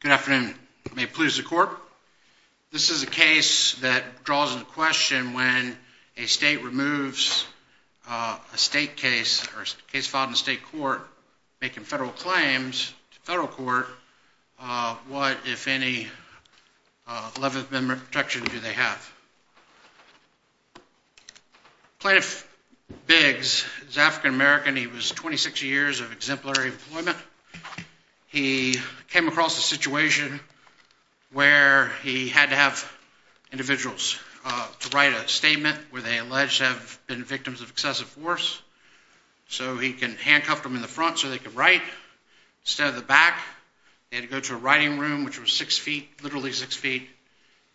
Good afternoon. May it please the court. This is a case that draws into question when a state removes a state case or a case filed in a state court making federal claims to federal court, what, if any, level of protection do they have? Plaintiff Biggs is African-American. He was 26 years of exemplary employment. He came across a situation where he had to have individuals to write a statement where they alleged to have been victims of excessive force. So he can handcuff them in the front so they can write. Instead of the back, they had to go to a writing room, which was six feet, literally six feet.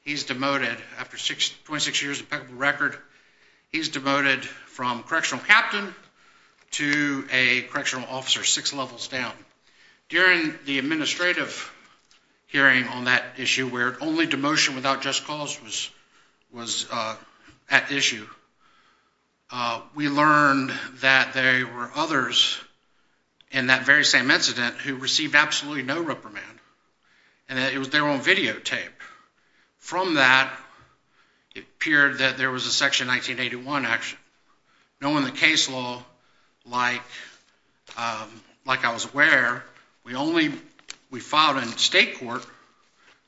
He's demoted after 26 years of impeccable record. He's demoted from correctional captain to a correctional officer, six levels down. During the administrative hearing on that issue where only demotion without just cause was at issue, we learned that there were others in that very same incident who received absolutely no reprimand and it was their own videotape. From that, it appeared that there was a Section 1981 action. Knowing the case law, like I was aware, we filed in state court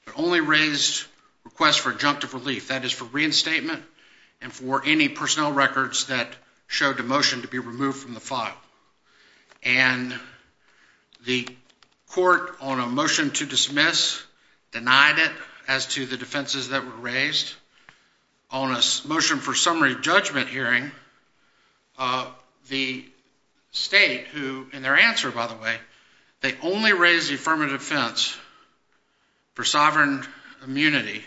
but only raised requests for adjunctive relief, that is, for reinstatement and for any personnel records that showed demotion to be removed from the file. And the court, on a motion to dismiss, denied it as to the defenses that were raised. On a motion for summary judgment hearing, the state who, in their answer, by the way, they only raised the affirmative defense for sovereign immunity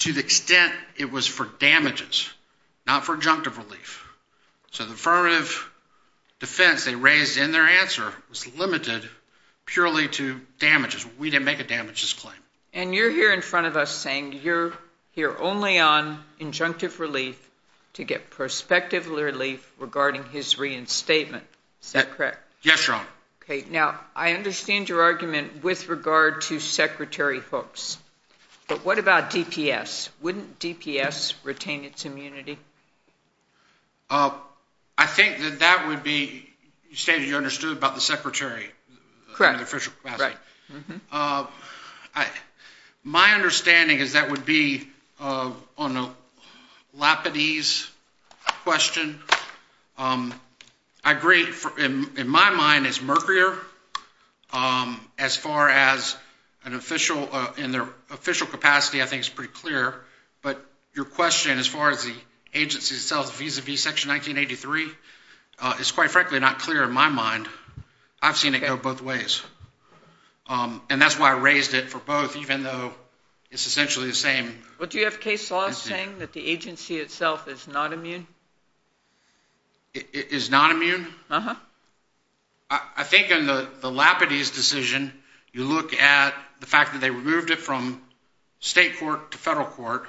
to the extent it was for damages, not for adjunctive relief. So the affirmative defense they raised in their answer was limited purely to damages. We didn't make a damages claim. And you're here in front of us saying you're here only on adjunctive relief to get prospective relief regarding his reinstatement. Is that correct? Yes, Your Honor. Okay. Now, I understand your argument with regard to Secretary Hooks. But what about DPS? Wouldn't DPS retain its immunity? I think that that would be, you stated you understood about the secretary. Correct. Right. It's quite frankly not clear in my mind. I've seen it go both ways. And that's why I raised it for both, even though it's essentially the same. But do you have case law saying that the agency itself is not immune? It is not immune? Uh-huh. I think in the Lapidese decision, you look at the fact that they removed it from state court to federal court.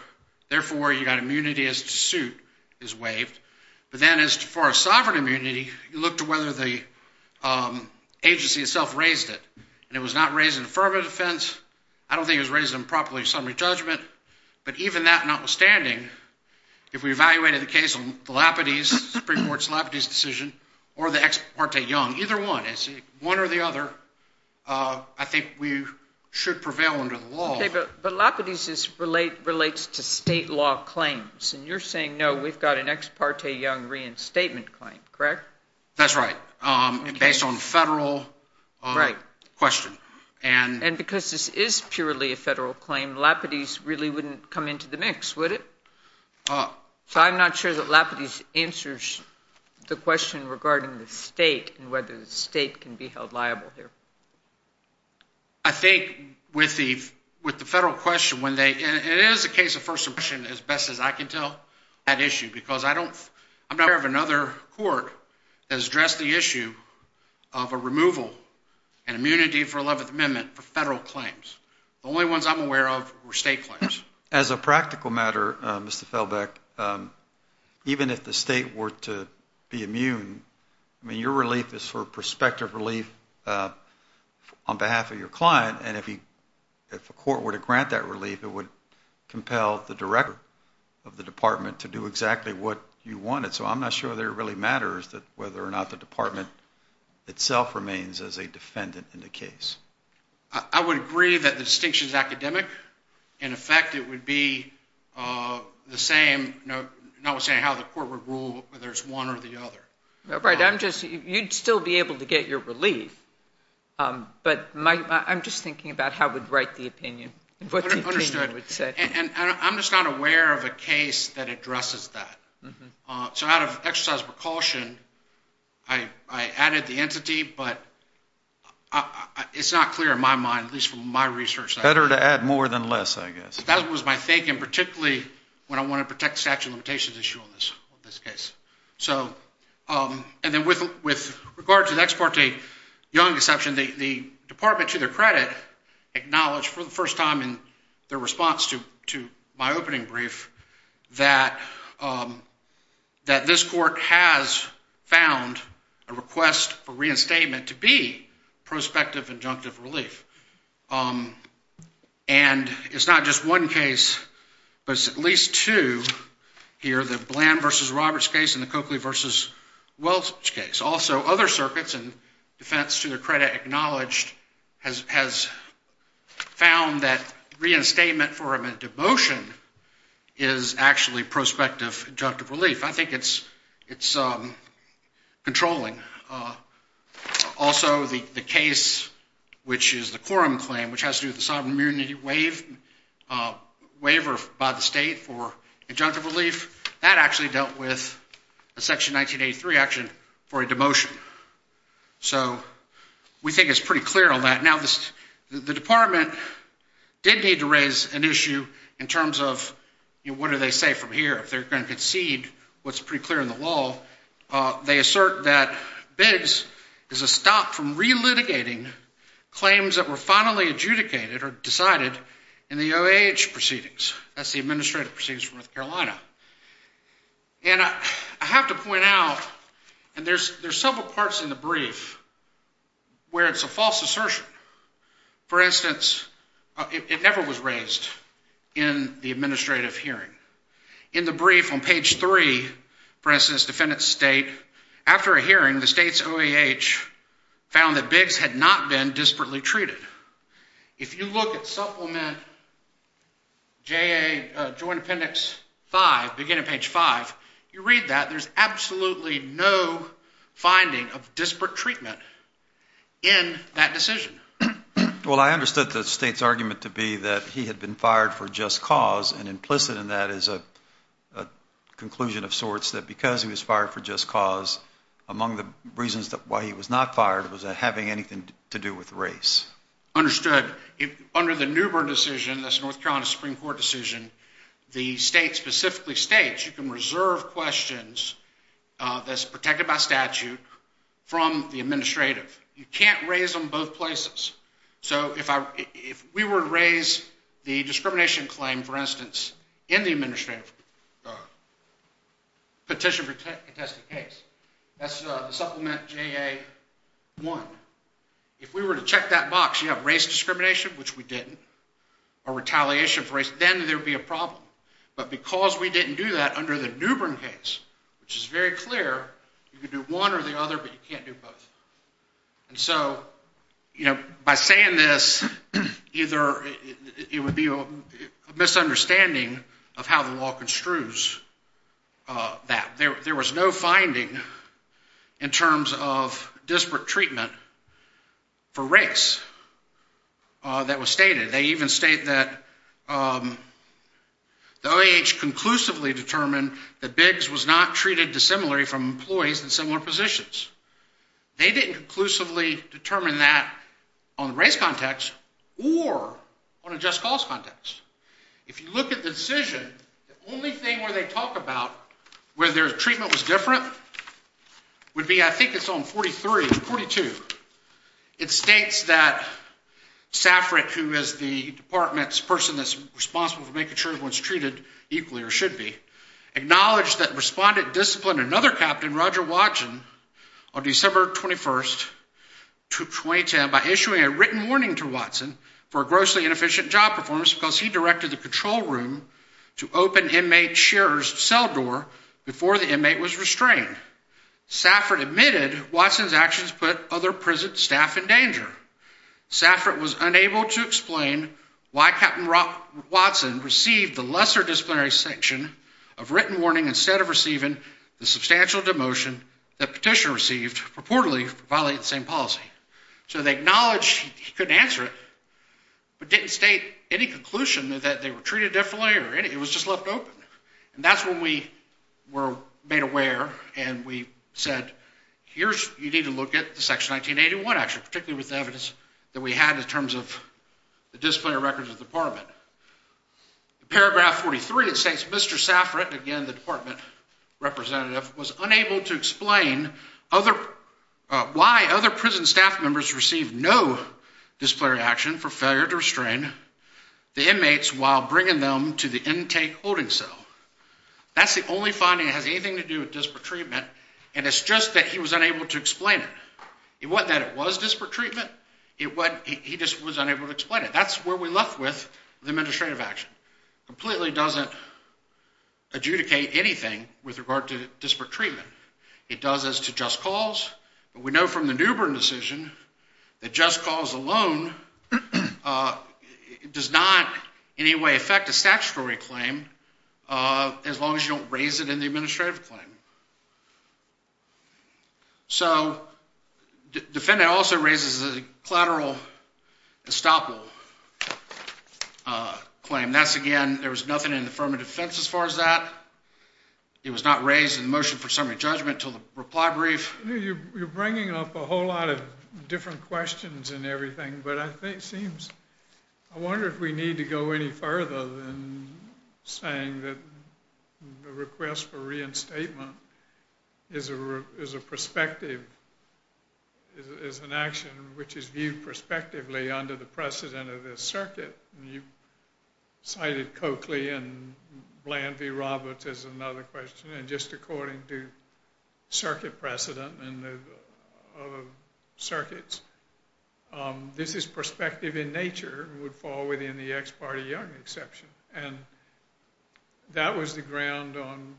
Therefore, you got immunity as to suit is waived. But then as far as sovereign immunity, you look to whether the agency itself raised it. And it was not raised in affirmative defense. I don't think it was raised improperly in summary judgment. But even that notwithstanding, if we evaluated the case on the Lapidese, Supreme Court's Lapidese decision, or the Ex parte Young, either one, one or the other, I think we should prevail under the law. But Lapidese relates to state law claims. And you're saying, no, we've got an Ex parte Young reinstatement claim, correct? That's right. Based on federal question. And because this is purely a federal claim, Lapidese really wouldn't come into the mix, would it? So I'm not sure that Lapidese answers the question regarding the state and whether the state can be held liable here. I think with the federal question, and it is a case of first impression as best as I can tell, that issue, because I'm not aware of another court that has addressed the issue of a removal and immunity for 11th Amendment for federal claims. The only ones I'm aware of were state claims. As a practical matter, Mr. Felbeck, even if the state were to be immune, I mean, your relief is for prospective relief on behalf of your client. And if a court were to grant that relief, it would compel the director of the department to do exactly what you wanted. So I'm not sure there really matters that whether or not the department itself remains as a defendant in the case. I would agree that the distinction is academic. In effect, it would be the same, notwithstanding how the court would rule whether it's one or the other. Right. You'd still be able to get your relief. But I'm just thinking about how we'd write the opinion, what the opinion would say. Understood. And I'm just not aware of a case that addresses that. So out of exercise of precaution, I added the entity, but it's not clear in my mind, at least from my research. Better to add more than less, I guess. That was my thinking, particularly when I wanted to protect the statute of limitations issue on this case. And then with regard to the Ex Parte Young deception, the department, to their credit, acknowledged for the first time in their response to my opening brief that this court has found a request for reinstatement to be prospective injunctive relief. And it's not just one case, but at least two here, the Bland v. Roberts case and the Coakley v. Welch case. Also, other circuits and defense, to their credit, acknowledged, has found that reinstatement for a motion is actually prospective injunctive relief. I think it's controlling. Also, the case, which is the quorum claim, which has to do with the sovereign immunity waiver by the state for injunctive relief, that actually dealt with a Section 1983 action for a demotion. So we think it's pretty clear on that. Now, the department did need to raise an issue in terms of what do they say from here. If they're going to concede what's pretty clear in the law, they assert that Biggs is a stop from relitigating claims that were finally adjudicated or decided in the OAH proceedings. That's the Administrative Proceedings of North Carolina. And I have to point out, and there's several parts in the brief where it's a false assertion. For instance, it never was raised in the administrative hearing. In the brief on page 3, for instance, defendants state, after a hearing, the state's OAH found that Biggs had not been disparately treated. If you look at Supplement JA Joint Appendix 5, beginning of page 5, you read that. There's absolutely no finding of disparate treatment in that decision. Well, I understood the state's argument to be that he had been fired for just cause and implicit in that is a conclusion of sorts that because he was fired for just cause, among the reasons why he was not fired was that having anything to do with race. Understood. Under the Newbern decision, that's the North Carolina Supreme Court decision, the state specifically states you can reserve questions that's protected by statute from the administrative. You can't raise them both places. So if we were to raise the discrimination claim, for instance, in the administrative petition for a contested case, that's Supplement JA 1, if we were to check that box, you have race discrimination, which we didn't, or retaliation for race, then there would be a problem. But because we didn't do that under the Newbern case, which is very clear, you can do one or the other, but you can't do both. And so, you know, by saying this, either it would be a misunderstanding of how the law construes that. There was no finding in terms of disparate treatment for race that was stated. They even state that the OAH conclusively determined that Biggs was not treated dissimilarly from employees in similar positions. They didn't conclusively determine that on the race context or on a just cause context. If you look at the decision, the only thing where they talk about whether their treatment was different would be, I think it's on 43, 42. It states that Saffrit, who is the department's person that's responsible for making sure everyone's treated equally or should be, acknowledged that respondent disciplined another captain, Roger Watson, on December 21st, 2010, by issuing a written warning to Watson for a grossly inefficient job performance because he directed the control room to open inmate chair's cell door before the inmate was restrained. Saffrit admitted Watson's actions put other prison staff in danger. Saffrit was unable to explain why Captain Watson received the lesser disciplinary sanction of written warning instead of receiving the substantial demotion that petitioner received reportedly for violating the same policy. So they acknowledged he couldn't answer it, but didn't state any conclusion that they were treated differently or anything. It was just left open. And that's when we were made aware and we said, here's, you need to look at the Section 1981 action, particularly with the evidence that we had in terms of the disciplinary records of the department. Paragraph 43, it states, Mr. Saffrit, again, the department representative, was unable to explain why other prison staff members received no disciplinary action for failure to restrain the inmates while bringing them to the intake holding cell. That's the only finding that has anything to do with disparate treatment. And it's just that he was unable to explain it. It wasn't that it was disparate treatment. He just was unable to explain it. That's where we left with the administrative action. Completely doesn't adjudicate anything with regard to disparate treatment. It does as to just cause. But we know from the Newbern decision that just cause alone does not in any way affect a statutory claim as long as you don't raise it in the administrative claim. So defendant also raises a collateral estoppel claim. That's, again, there was nothing in the affirmative defense as far as that. It was not raised in the motion for summary judgment until the reply brief. You're bringing up a whole lot of different questions and everything, but I wonder if we need to go any further than saying that the request for reinstatement is an action which is viewed prospectively under the precedent of this circuit. You cited Coakley and Bland v. Roberts as another question. And just according to circuit precedent and other circuits, this is prospective in nature and would fall within the ex parte Young exception. And that was the ground on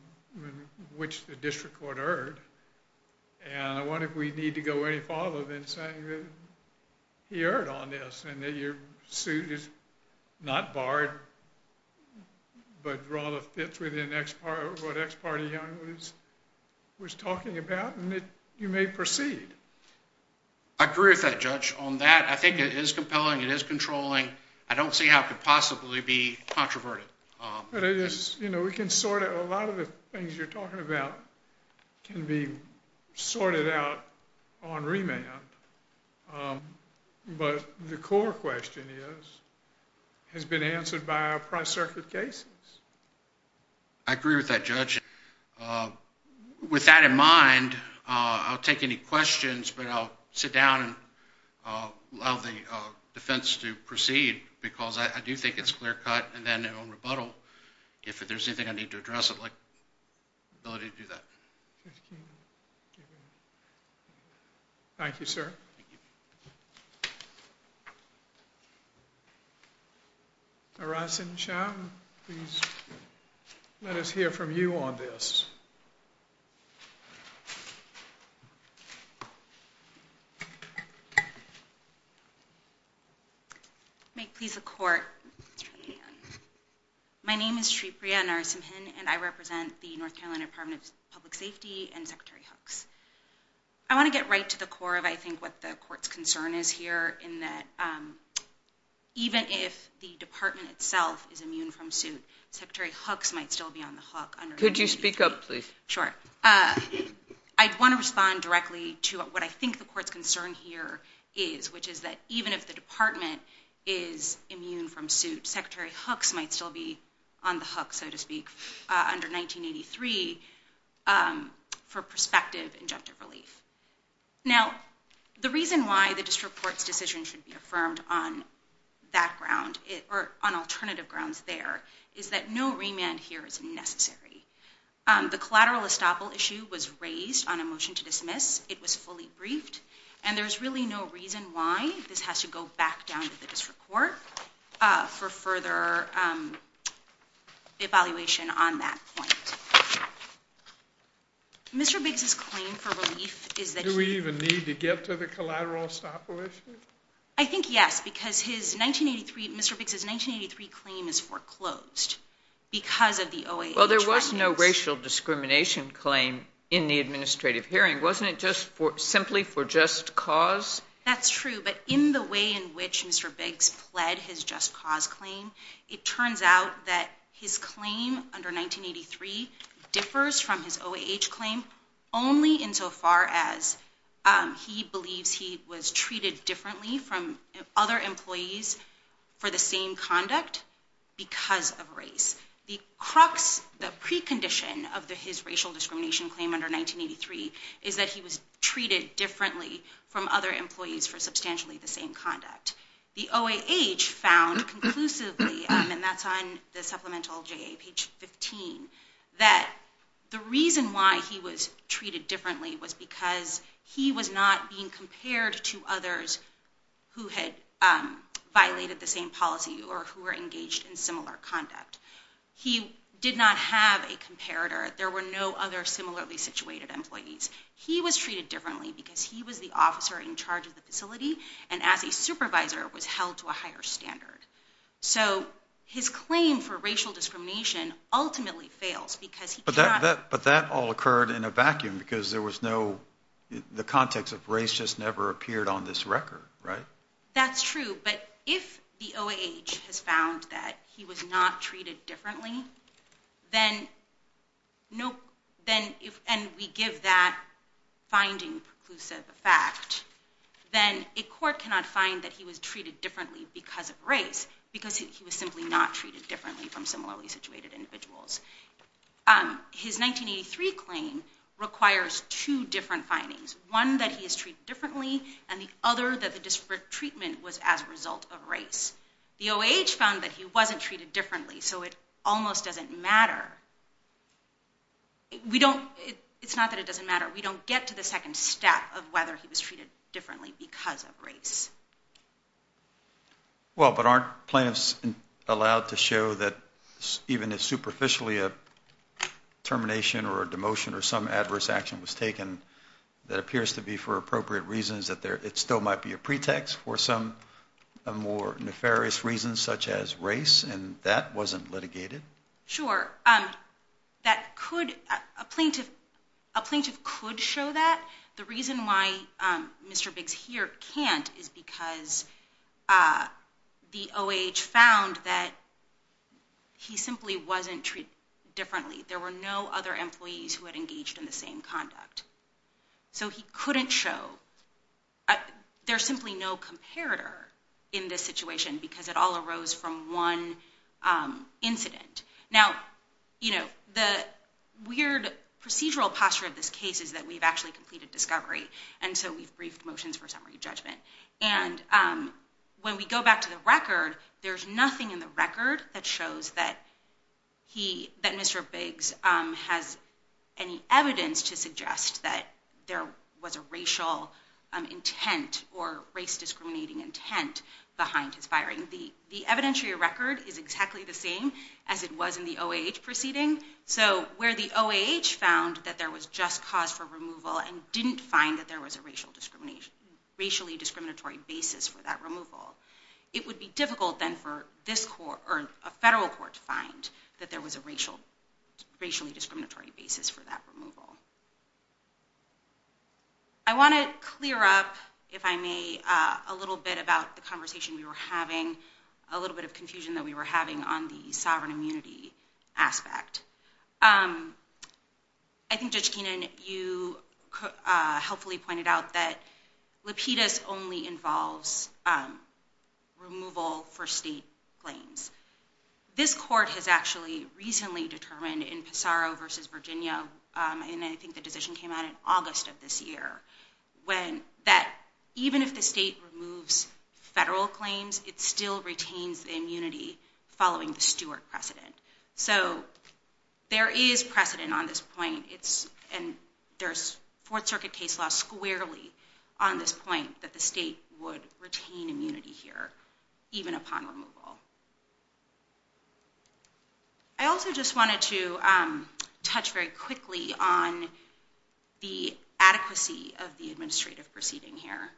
which the district court erred. And I wonder if we need to go any further than saying that he erred on this and that your suit is not barred but rather fits within what ex parte Young was talking about and that you may proceed. I agree with that, Judge. On that, I think it is compelling. It is controlling. I don't see how it could possibly be controverted. But it is, you know, we can sort it. A lot of the things you're talking about can be sorted out on remand. But the core question is, has it been answered by our price circuit cases? I agree with that, Judge. With that in mind, I'll take any questions, but I'll sit down and allow the defense to proceed because I do think it's clear cut. And then in rebuttal, if there's anything I need to address, I'd like the ability to do that. Thank you. Thank you, sir. Narasimhan, please let us hear from you on this. May it please the court. My name is Sripriya Narasimhan, and I represent the North Carolina Department of Public Safety and Secretary Hooks. I want to get right to the core of, I think, what the court's concern is here, in that even if the department itself is immune from suit, Secretary Hooks might still be on the hook. Could you speak up, please? Sure. I want to respond directly to what I think the court's concern here is, which is that even if the department is immune from suit, Secretary Hooks might still be on the hook, so to speak, under 1983 for prospective injunctive relief. Now, the reason why the district court's decision should be affirmed on that ground, or on alternative grounds there, is that no remand here is necessary. The collateral estoppel issue was raised on a motion to dismiss. It was fully briefed. And there's really no reason why this has to go back down to the district court for further evaluation on that point. Mr. Biggs' claim for relief is that he Do we even need to get to the collateral estoppel issue? I think yes, because Mr. Biggs' 1983 claim is foreclosed because of the OAH. Well, there was no racial discrimination claim in the administrative hearing. Wasn't it simply for just cause? That's true. But in the way in which Mr. Biggs fled his just cause claim, it turns out that his claim under 1983 differs from his OAH claim only insofar as he believes he was treated differently from other employees for the same conduct because of race. The precondition of his racial discrimination claim under 1983 is that he was treated differently from other employees for substantially the same conduct. The OAH found conclusively, and that's on the supplemental JA page 15, that the reason why he was treated differently was because he was not being compared to others who had violated the same policy or who were engaged in similar conduct. He did not have a comparator. There were no other similarly situated employees. He was treated differently because he was the officer in charge of the facility and as a supervisor was held to a higher standard. So his claim for racial discrimination ultimately fails because he cannot But that all occurred in a vacuum because there was no The context of race just never appeared on this record, right? That's true, but if the OAH has found that he was not treated differently, and we give that finding preclusive fact, then a court cannot find that he was treated differently because of race because he was simply not treated differently from similarly situated individuals. His 1983 claim requires two different findings, one that he is treated differently and the other that the treatment was as a result of race. The OAH found that he wasn't treated differently, so it almost doesn't matter. It's not that it doesn't matter. We don't get to the second step of whether he was treated differently because of race. Well, but aren't plaintiffs allowed to show that even if superficially a termination or a demotion or some adverse action was taken that appears to be for appropriate reasons that it still might be a pretext for some more nefarious reasons such as race and that wasn't litigated? Sure. A plaintiff could show that. The reason why Mr. Biggs here can't is because the OAH found that he simply wasn't treated differently. There were no other employees who had engaged in the same conduct. So he couldn't show. There's simply no comparator in this situation because it all arose from one incident. Now, you know, the weird procedural posture of this case is that we've actually completed discovery and so we've briefed motions for summary judgment. And when we go back to the record, there's nothing in the record that shows that Mr. Biggs has any evidence to suggest that there was a racial intent or race-discriminating intent behind his firing. The evidentiary record is exactly the same as it was in the OAH proceeding. So where the OAH found that there was just cause for removal and didn't find that there was a racially discriminatory basis for that removal, it would be difficult then for a federal court to find that there was a racially discriminatory basis for that removal. I want to clear up, if I may, a little bit about the conversation we were having, a little bit of confusion that we were having on the sovereign immunity aspect. I think, Judge Keenan, you helpfully pointed out that Lapidus only involves removal for state claims. This court has actually recently determined in Pissarro v. Virginia, and I think the decision came out in August of this year, that even if the state removes federal claims, it still retains the immunity following the Stewart precedent. So there is precedent on this point, and there's Fourth Circuit case law squarely on this point, that the state would retain immunity here, even upon removal. I also just wanted to touch very quickly on the adequacy of the administrative proceeding here.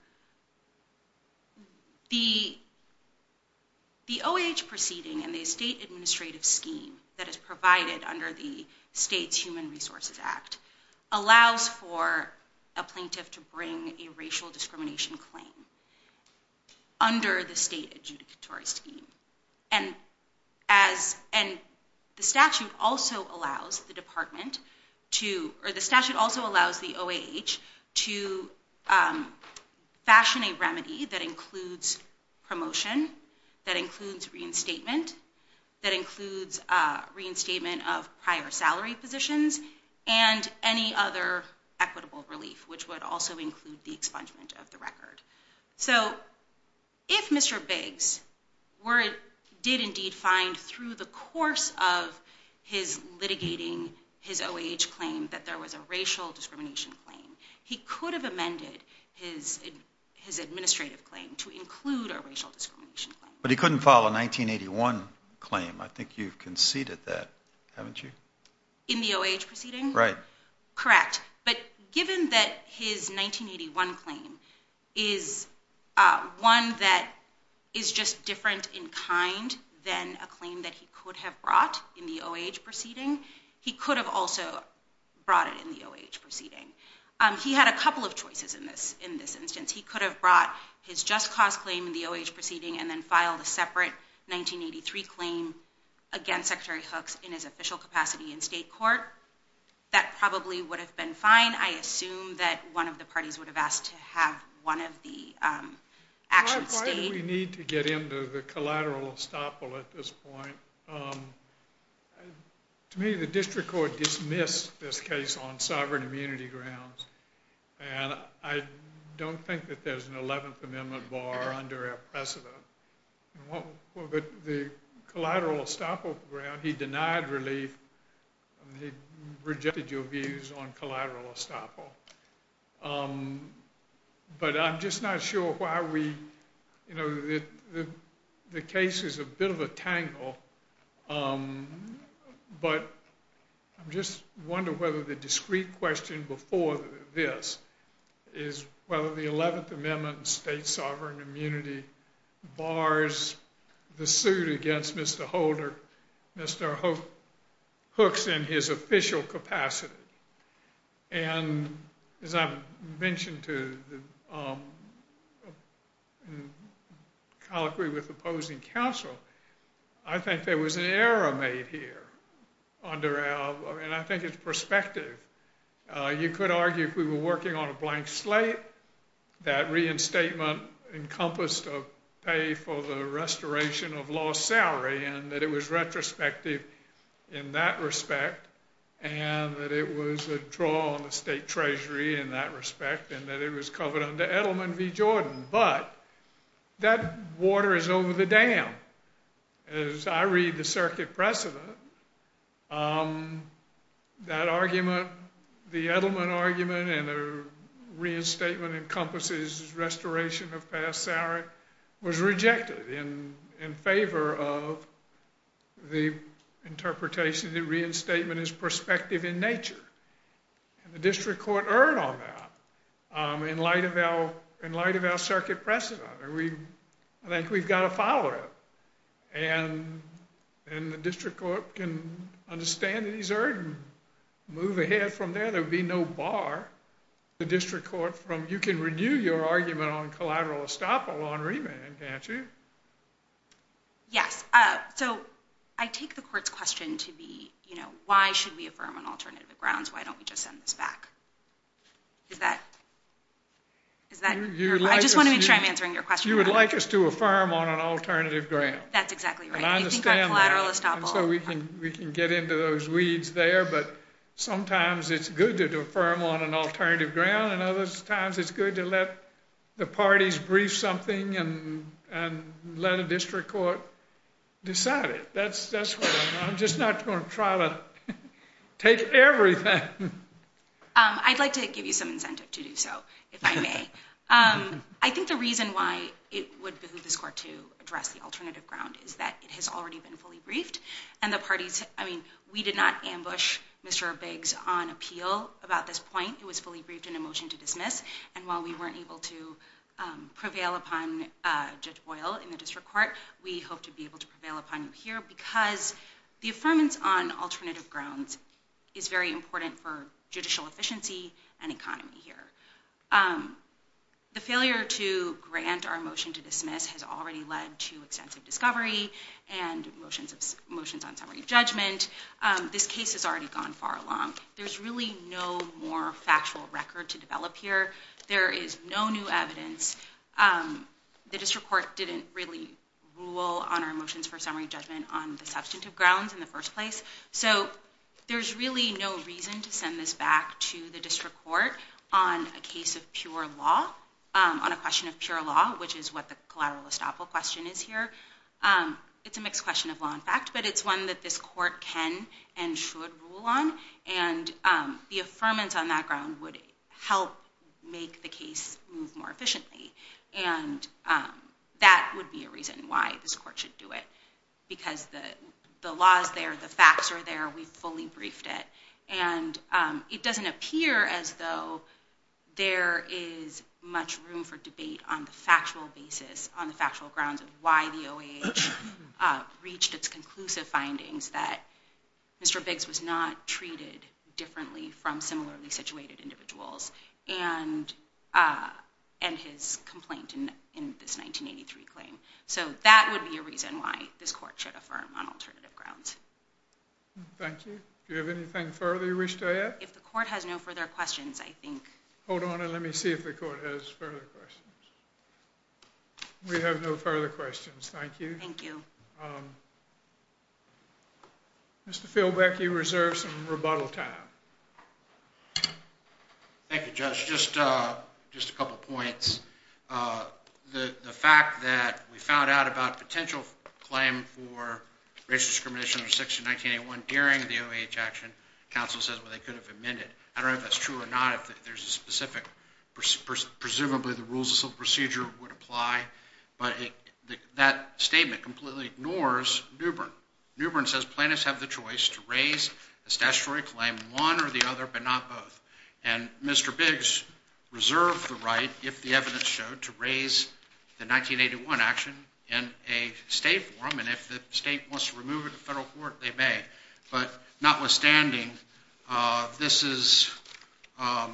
The OAH proceeding and the state administrative scheme that is provided under the state's Human Resources Act allows for a plaintiff to bring a racial discrimination claim under the state adjudicatory scheme. The statute also allows the OAH to fashion a remedy that includes promotion, that includes reinstatement of prior salary positions, and any other equitable relief, which would also include the expungement of the record. So if Mr. Biggs did indeed find through the course of his litigating his OAH claim that there was a racial discrimination claim, he could have amended his administrative claim to include a racial discrimination claim. But he couldn't file a 1981 claim. I think you've conceded that, haven't you? In the OAH proceeding? Right. Correct. But given that his 1981 claim is one that is just different in kind than a claim that he could have brought in the OAH proceeding, he could have also brought it in the OAH proceeding. He had a couple of choices in this instance. He could have brought his just cause claim in the OAH proceeding and then filed a separate 1983 claim against Secretary Hooks in his official capacity in state court. That probably would have been fine. I assume that one of the parties would have asked to have one of the actions stayed. We need to get into the collateral estoppel at this point. To me, the district court dismissed this case on sovereign immunity grounds, and I don't think that there's an 11th Amendment bar under our precedent. But the collateral estoppel ground, he denied relief. He rejected your views on collateral estoppel. But I'm just not sure why we, you know, the case is a bit of a tangle. But I'm just wondering whether the discrete question before this is whether the 11th Amendment and state sovereign immunity bars the suit against Mr. Holder, Mr. Hooks in his official capacity. And as I mentioned to the colloquy with opposing counsel, I think there was an error made here under our, and I think it's perspective. You could argue if we were working on a blank slate, that reinstatement encompassed a pay for the restoration of lost salary, and that it was retrospective in that respect, and that it was a draw on the state treasury in that respect, and that it was covered under Edelman v. Jordan. But that water is over the dam. As I read the circuit precedent, that argument, the Edelman argument, and the reinstatement encompasses restoration of past salary, was rejected in favor of the interpretation that reinstatement is perspective in nature. And the district court erred on that in light of our circuit precedent. I think we've got to follow it. And the district court can understand that he's erred and move ahead from there. There would be no bar. The district court from, you can renew your argument on collateral estoppel on remand, can't you? Yes. So I take the court's question to be, you know, why should we affirm on alternative grounds? Why don't we just send this back? Is that your point? I just want to make sure I'm answering your question. You would like us to affirm on an alternative ground. That's exactly right. And I understand that. You think on collateral estoppel. So we can get into those weeds there, but sometimes it's good to affirm on an alternative ground, and other times it's good to let the parties brief something and let a district court decide it. I'm just not going to try to take everything. I'd like to give you some incentive to do so, if I may. I think the reason why it would behoove this court to address the alternative ground is that it has already been fully briefed. And the parties, I mean, we did not ambush Mr. Biggs on appeal about this point. It was fully briefed in a motion to dismiss. And while we weren't able to prevail upon Judge Boyle in the district court, we hope to be able to prevail upon you here because the affirmance on alternative grounds is very important for judicial efficiency and economy here. The failure to grant our motion to dismiss has already led to extensive discovery and motions on summary judgment. This case has already gone far along. There's really no more factual record to develop here. There is no new evidence. The district court didn't really rule on our motions for summary judgment on the substantive grounds in the first place. So there's really no reason to send this back to the district court on a case of pure law, on a question of pure law, which is what the collateral estoppel question is here. It's a mixed question of law and fact, but it's one that this court can and should rule on. And the affirmance on that ground would help make the case move more efficiently. And that would be a reason why this court should do it because the law is there. The facts are there. We fully briefed it. And it doesn't appear as though there is much room for debate on the factual basis, on the factual grounds of why the OAH reached its conclusive findings that Mr. Biggs was not treated differently from similarly situated individuals and his complaint in this 1983 claim. So that would be a reason why this court should affirm on alternative grounds. Thank you. Do you have anything further you wish to add? If the court has no further questions, I think... Hold on and let me see if the court has further questions. We have no further questions. Thank you. Thank you. Mr. Philbeck, you reserve some rebuttal time. Thank you, Judge. Just a couple points. The fact that we found out about a potential claim for racial discrimination under Section 1981 during the OAH action, counsel says they could have amended. I don't know if that's true or not. If there's a specific, presumably the rules of procedure would apply. But that statement completely ignores Newbern. Newbern says plaintiffs have the choice to raise a statutory claim, one or the other, but not both. And Mr. Biggs reserved the right, if the evidence showed, to raise the 1981 action in a state forum. And if the state wants to remove it in federal court, they may. But notwithstanding, this is a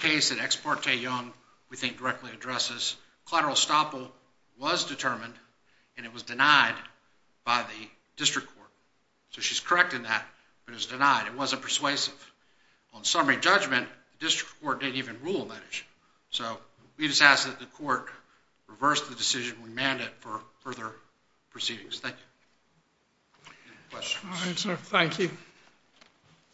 case that Ex parte Young, we think, directly addresses. Collateral estoppel was determined, and it was denied by the district court. So she's correct in that, but it was denied. It wasn't persuasive. On summary judgment, the district court didn't even rule on that issue. So we just ask that the court reverse the decision and remand it for further proceedings. Thank you. All right, sir. Thank you.